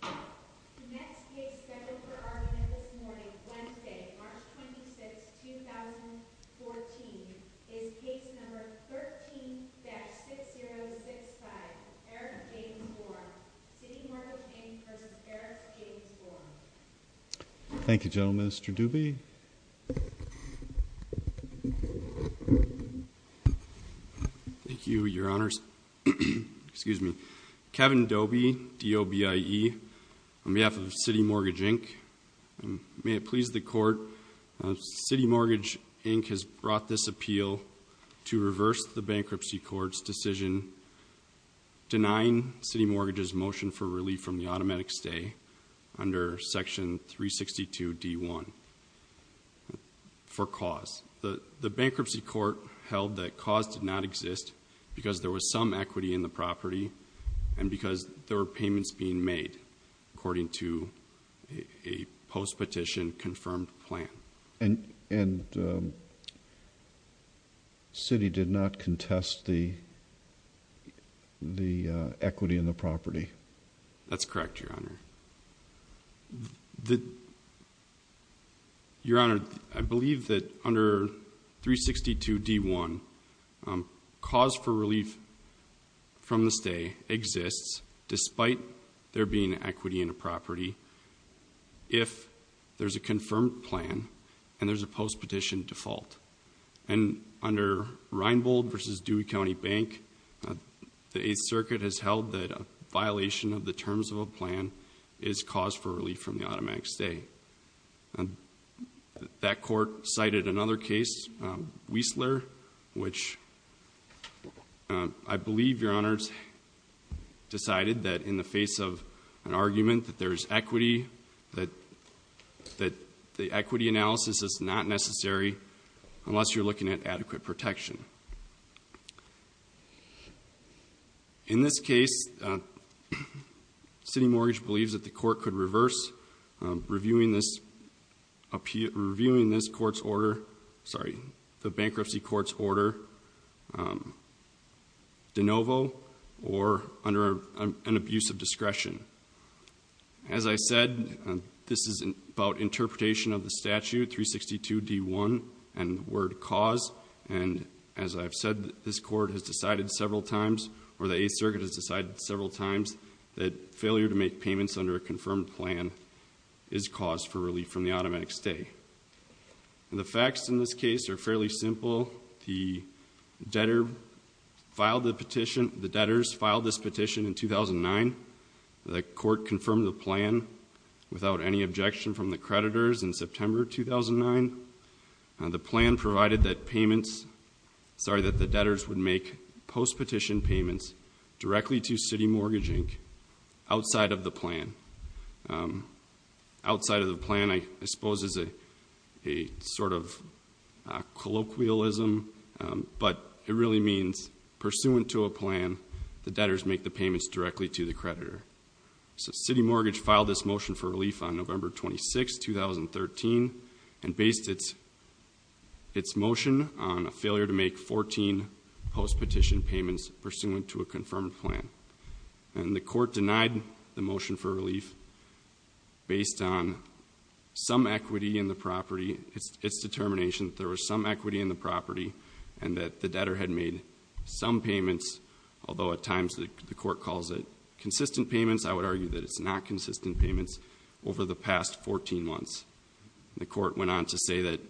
The next case scheduled for argument this morning, Wednesday, March 26, 2014, is case number 13-6065, Eric James Borm. CitiMortgage, Inc. v. Eric James Borm. Thank you, General Minister Doobie. Thank you, Your Honors. Kevin Doobie, DOBIE, on behalf of CitiMortgage, Inc. May it please the Court, CitiMortgage, Inc. has brought this appeal to reverse the Bankruptcy Court's decision denying CitiMortgage's motion for relief from the automatic stay under Section 362 D.1 for cause. The Bankruptcy Court held that cause did not exist because there was some equity in the property and because there were payments being made according to a post-petition confirmed plan. And Citi did not contest the equity in the property? That's correct, Your Honor. Your Honor, I believe that under 362 D.1, cause for relief from the stay exists despite there being equity in the property if there's a confirmed plan and there's a post-petition default. And under Reinbold v. Dewey County Bank, the Eighth Circuit has held that a violation of the terms of a plan is cause for relief from the automatic stay. That court cited another case, Wiesler, which I believe, Your Honors, decided that in the face of an argument that there's equity, that the equity analysis is not necessary unless you're looking at adequate protection. In this case, CitiMortgage believes that the Court could reverse reviewing this Court's order, sorry, the Bankruptcy Court's order de novo or under an abuse of discretion. As I said, this is about interpretation of the statute, 362 D.1, and the word cause. And as I've said, this Court has decided several times, or the Eighth Circuit has decided several times, that failure to make payments under a confirmed plan is cause for relief from the automatic stay. The facts in this case are fairly simple. The debtor filed the petition, the debtors filed this petition in 2009. The Court confirmed the plan without any objection from the creditors in September 2009. The plan provided that payments, sorry, that the debtors would make post-petition payments directly to CitiMortgage Inc. outside of the plan. Outside of the plan, I suppose, is a sort of colloquialism, but it really means pursuant to a plan, the debtors make the payments directly to the creditor. So CitiMortgage filed this motion for relief on November 26, 2013, and based its motion on a failure to make 14 post-petition payments pursuant to a confirmed plan. And the Court denied the motion for relief based on some equity in the property, its determination that there was some equity in the property, and that the debtor had made some payments, although at times the Court calls it consistent payments, I would argue that it's not consistent payments, over the past 14 months. The Court went on to say that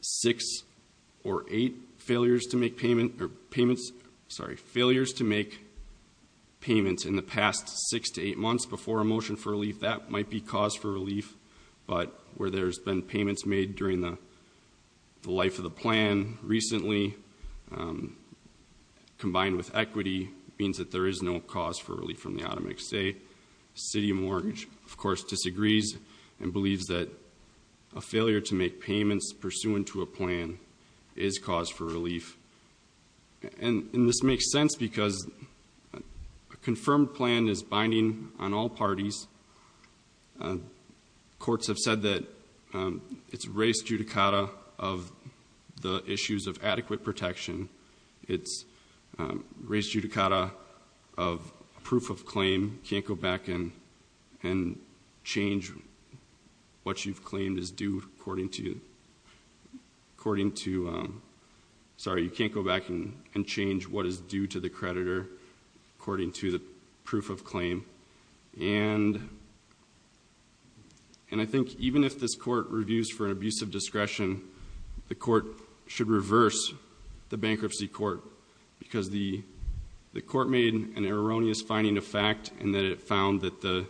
six or eight failures to make payments in the past six to eight months before a motion for relief, that might be cause for relief, but where there's been payments made during the life of the plan recently, combined with equity, means that there is no cause for relief from the automatic stay. CitiMortgage, of course, disagrees and believes that a failure to make payments pursuant to a plan is cause for relief. And this makes sense because a confirmed plan is binding on all parties. Courts have said that it's res judicata of the issues of adequate protection. It's res judicata of proof of claim. You can't go back and change what is due to the creditor according to the proof of claim. And I think even if this Court reviews for an abuse of discretion, the Court should reverse the Bankruptcy Court because the Court made an erroneous finding of fact in that it found that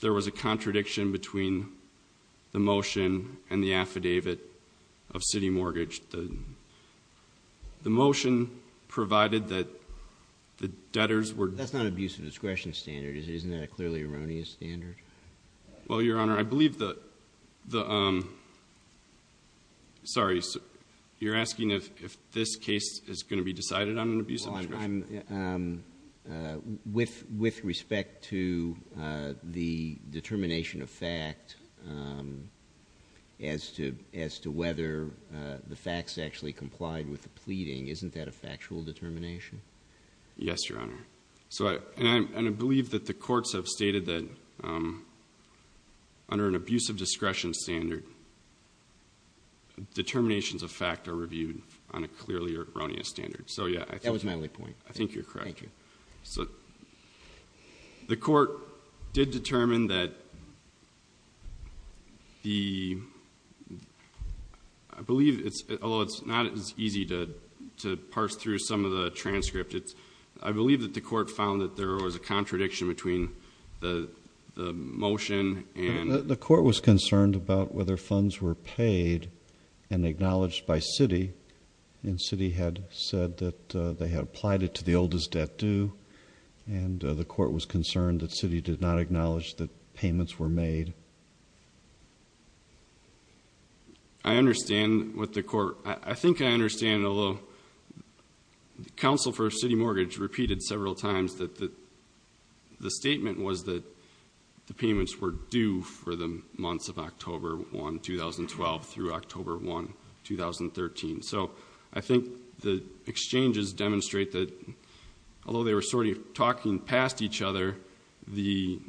there was a contradiction between the motion and the affidavit of CitiMortgage. The motion provided that the debtors were... That's not an abuse of discretion standard. Isn't that a clearly erroneous standard? Well, Your Honor, I believe the... Sorry. You're asking if this case is going to be decided on an abuse of discretion? With respect to the determination of fact as to whether the facts actually complied with the pleading, isn't that a factual determination? Yes, Your Honor. And I believe that the courts have stated that under an abuse of discretion standard, determinations of fact are reviewed on a clearly erroneous standard. That was my only point. I think you're correct. Thank you. The Court did determine that the... I believe, although it's not as easy to parse through some of the transcript, I believe that the Court found that there was a contradiction between the motion and... The Court was concerned about whether funds were paid and acknowledged by Citi, and Citi had said that they had applied it to the oldest debt due, and the Court was concerned that Citi did not acknowledge that payments were made. I understand what the Court... I think I understand, although the counsel for Citi Mortgage repeated several times that the statement was that the payments were due for the months of October 1, 2012, through October 1, 2013. So I think the exchanges demonstrate that although they were sort of talking past each other, the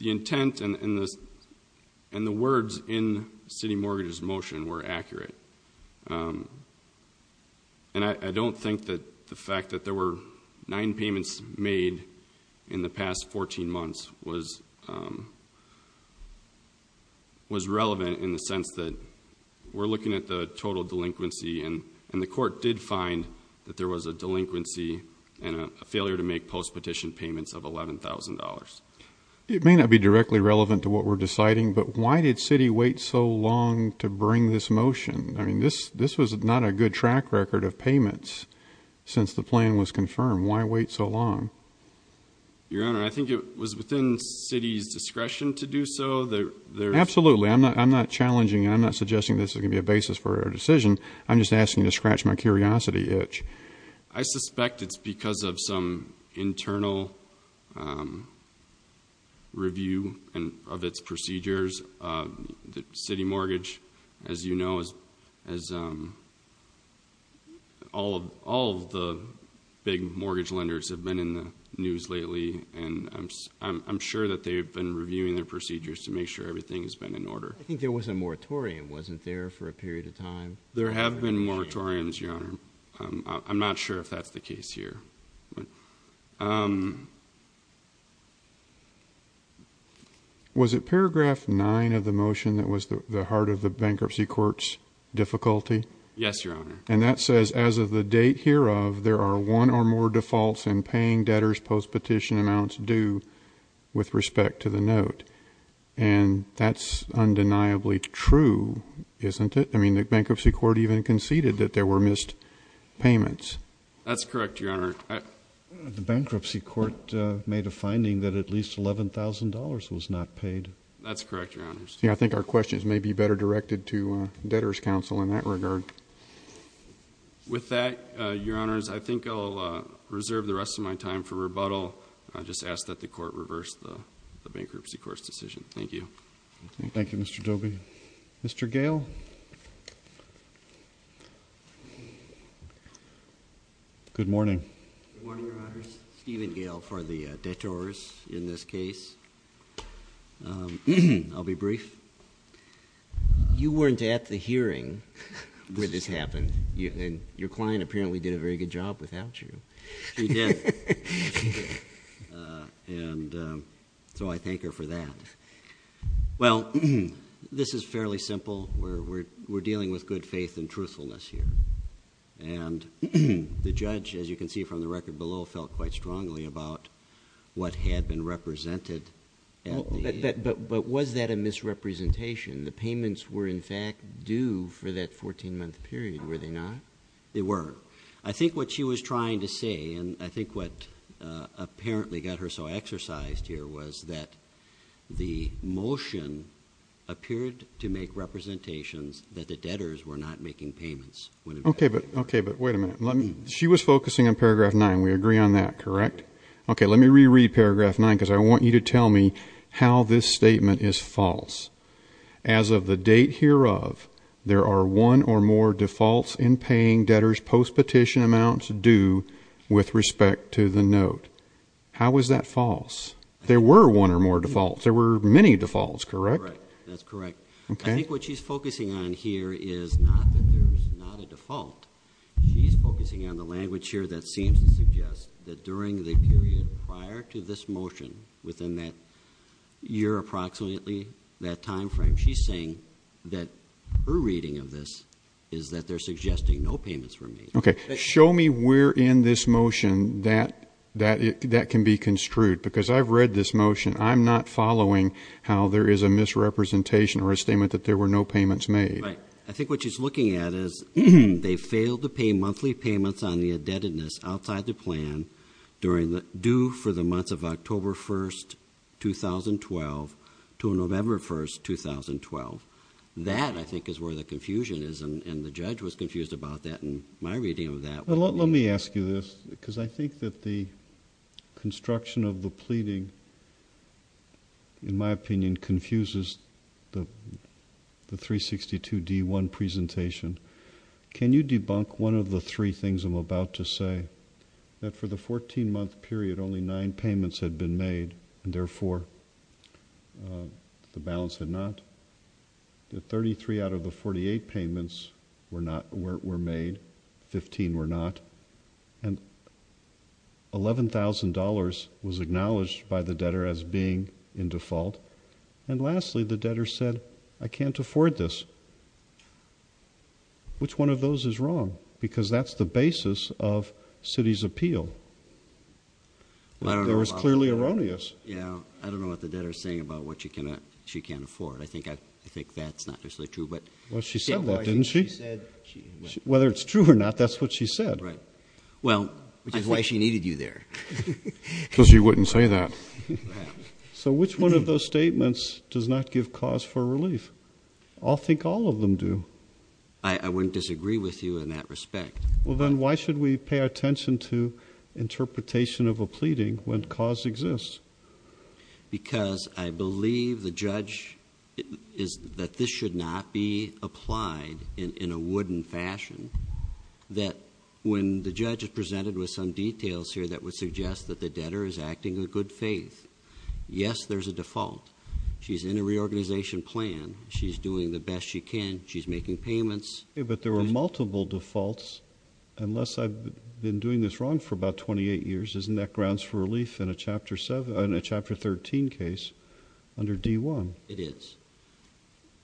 intent and the words in Citi Mortgage's motion were accurate. And I don't think that the fact that there were nine payments made in the past 14 months was relevant in the sense that we're looking at the total delinquency, and the Court did find that there was a delinquency and a failure to make post-petition payments of $11,000. It may not be directly relevant to what we're deciding, but why did Citi wait so long to bring this motion? I mean, this was not a good track record of payments since the plan was confirmed. Why wait so long? Your Honor, I think it was within Citi's discretion to do so. Absolutely. I'm not challenging... I'm just asking to scratch my curiosity itch. I suspect it's because of some internal review of its procedures. Citi Mortgage, as you know, as all of the big mortgage lenders have been in the news lately, and I'm sure that they've been reviewing their procedures to make sure everything has been in order. I think there was a moratorium, wasn't there, for a period of time? There have been moratoriums, Your Honor. I'm not sure if that's the case here. Was it paragraph 9 of the motion that was the heart of the bankruptcy court's difficulty? Yes, Your Honor. And that says, as of the date hereof, there are one or more defaults in paying debtors post-petition amounts due with respect to the note. And that's undeniably true, isn't it? I mean, the bankruptcy court even conceded that there were missed payments. That's correct, Your Honor. The bankruptcy court made a finding that at least $11,000 was not paid. That's correct, Your Honors. I think our questions may be better directed to debtors counsel in that regard. With that, Your Honors, I think I'll reserve the rest of my time for rebuttal. I just ask that the court reverse the bankruptcy court's decision. Thank you. Thank you, Mr. Dobie. Mr. Gale? Good morning. Good morning, Your Honors. Stephen Gale for the debtors in this case. I'll be brief. You weren't at the hearing when this happened, and your client apparently did a very good job without you. She did. And so I thank her for that. Well, this is fairly simple. We're dealing with good faith and truthfulness here. And the judge, as you can see from the record below, felt quite strongly about what had been represented. But was that a misrepresentation? The payments were, in fact, due for that 14-month period, were they not? They were. I think what she was trying to say, and I think what apparently got her so exercised here, was that the motion appeared to make representations that the debtors were not making payments. Okay, but wait a minute. She was focusing on paragraph 9. We agree on that, correct? Okay, let me reread paragraph 9 because I want you to tell me how this statement is false. As of the date hereof, there are one or more defaults in paying debtors post-petition amounts due with respect to the note. How is that false? There were one or more defaults. There were many defaults, correct? That's correct. I think what she's focusing on here is not that there's not a default. She's focusing on the language here that seems to suggest that during the period prior to this motion, within that year approximately, that time frame, she's saying that her reading of this is that they're suggesting no payments were made. Okay, show me where in this motion that can be construed because I've read this motion. I'm not following how there is a misrepresentation or a statement that there were no payments made. Right. I think what she's looking at is they failed to pay monthly payments on the indebtedness outside the plan due for the months of October 1st, 2012 to November 1st, 2012. That, I think, is where the confusion is, and the judge was confused about that in my reading of that. Let me ask you this because I think that the construction of the pleading, in my opinion, confuses the 362D1 presentation. Can you debunk one of the three things I'm about to say, that for the 14-month period, only nine payments had been made and, therefore, the balance had not, that 33 out of the 48 payments were made, 15 were not, and $11,000 was acknowledged by the debtor as being in default, and, lastly, the debtor said, I can't afford this. Which one of those is wrong? Because that's the basis of Citi's appeal. It was clearly erroneous. I don't know what the debtor is saying about what she can't afford. I think that's not necessarily true. Well, she said that, didn't she? Whether it's true or not, that's what she said. Right. Well, which is why she needed you there. Because she wouldn't say that. So which one of those statements does not give cause for relief? I think all of them do. I wouldn't disagree with you in that respect. Well, then, why should we pay attention to interpretation of a pleading when cause exists? Because I believe the judge is that this should not be applied in a wooden fashion, that when the judge is presented with some details here that would suggest that the debtor is acting in good faith, yes, there's a default. She's in a reorganization plan. She's doing the best she can. She's making payments. But there were multiple defaults. Unless I've been doing this wrong for about 28 years, isn't that grounds for relief in a Chapter 13 case under D-1? It is.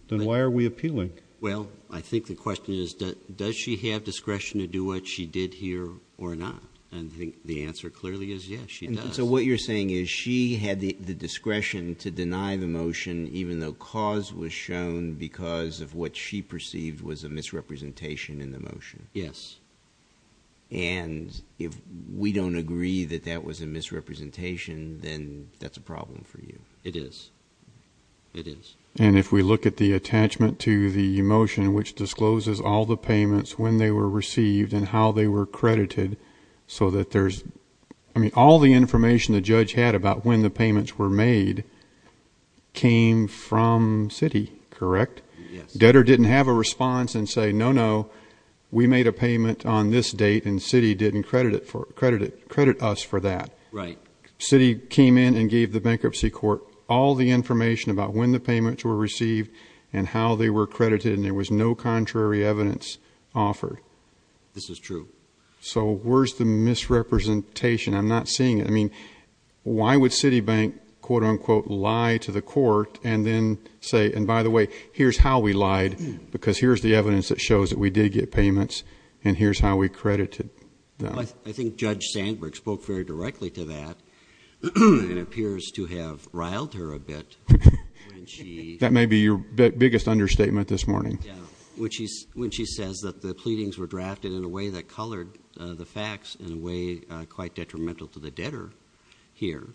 Then why are we appealing? Well, I think the question is, does she have discretion to do what she did here or not? And I think the answer clearly is yes, she does. So what you're saying is she had the discretion to deny the motion, even though cause was shown because of what she perceived was a misrepresentation in the motion. Yes. And if we don't agree that that was a misrepresentation, then that's a problem for you. It is. It is. And if we look at the attachment to the motion, which discloses all the payments, when they were received, and how they were credited, so that there's, I mean, all the information the judge had about when the payments were made came from Citi, correct? Yes. Debtor didn't have a response and say, no, no, we made a payment on this date, and Citi didn't credit us for that. Right. Citi came in and gave the bankruptcy court all the information about when the payments were received and how they were credited, and there was no contrary evidence offered. This is true. So where's the misrepresentation? I'm not seeing it. I mean, why would Citi Bank, quote, unquote, lie to the court and then say, and by the way, here's how we lied, because here's the evidence that shows that we did get payments, and here's how we credited them. I think Judge Sandberg spoke very directly to that and appears to have riled her a bit when she- That may be your biggest understatement this morning. Yeah. When she says that the pleadings were drafted in a way that colored the facts in a way quite detrimental to the debtor here,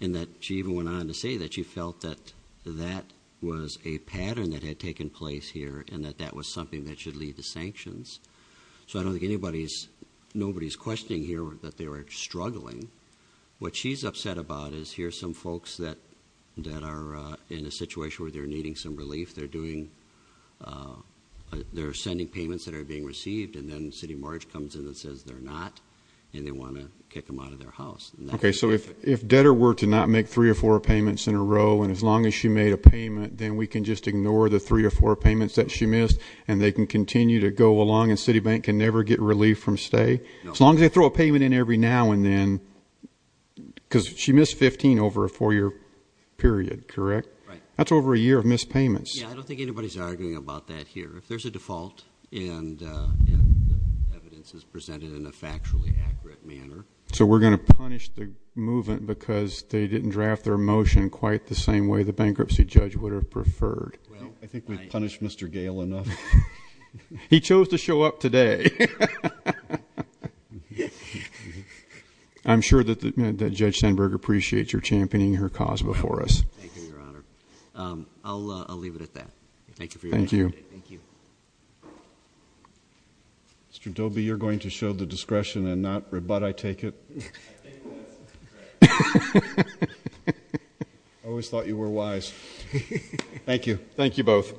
and that she even went on to say that she felt that that was a pattern that had taken place here and that that was something that should lead to sanctions. So I don't think anybody's, nobody's questioning here that they were struggling. What she's upset about is here's some folks that are in a situation where they're needing some relief. They're doing, they're sending payments that are being received, and then Citi Mortgage comes in and says they're not and they want to kick them out of their house. Okay. So if debtor were to not make three or four payments in a row, and as long as she made a payment, then we can just ignore the three or four payments that she missed, and they can continue to go along and Citi Bank can never get relief from stay? No. As long as they throw a payment in every now and then, because she missed 15 over a four-year period, correct? Right. That's over a year of missed payments. Yeah, I don't think anybody's arguing about that here. If there's a default and evidence is presented in a factually accurate manner- So we're going to punish the movement because they didn't draft their motion quite the same way the bankruptcy judge would have preferred. I think we've punished Mr. Gale enough. He chose to show up today. I'm sure that Judge Sandberg appreciates your championing her cause before us. Thank you, Your Honor. I'll leave it at that. Thank you for your time today. Thank you. Thank you. Mr. Dobie, you're going to show the discretion and not rebut, I take it? I think that's correct. I always thought you were wise. Thank you. Thank you both.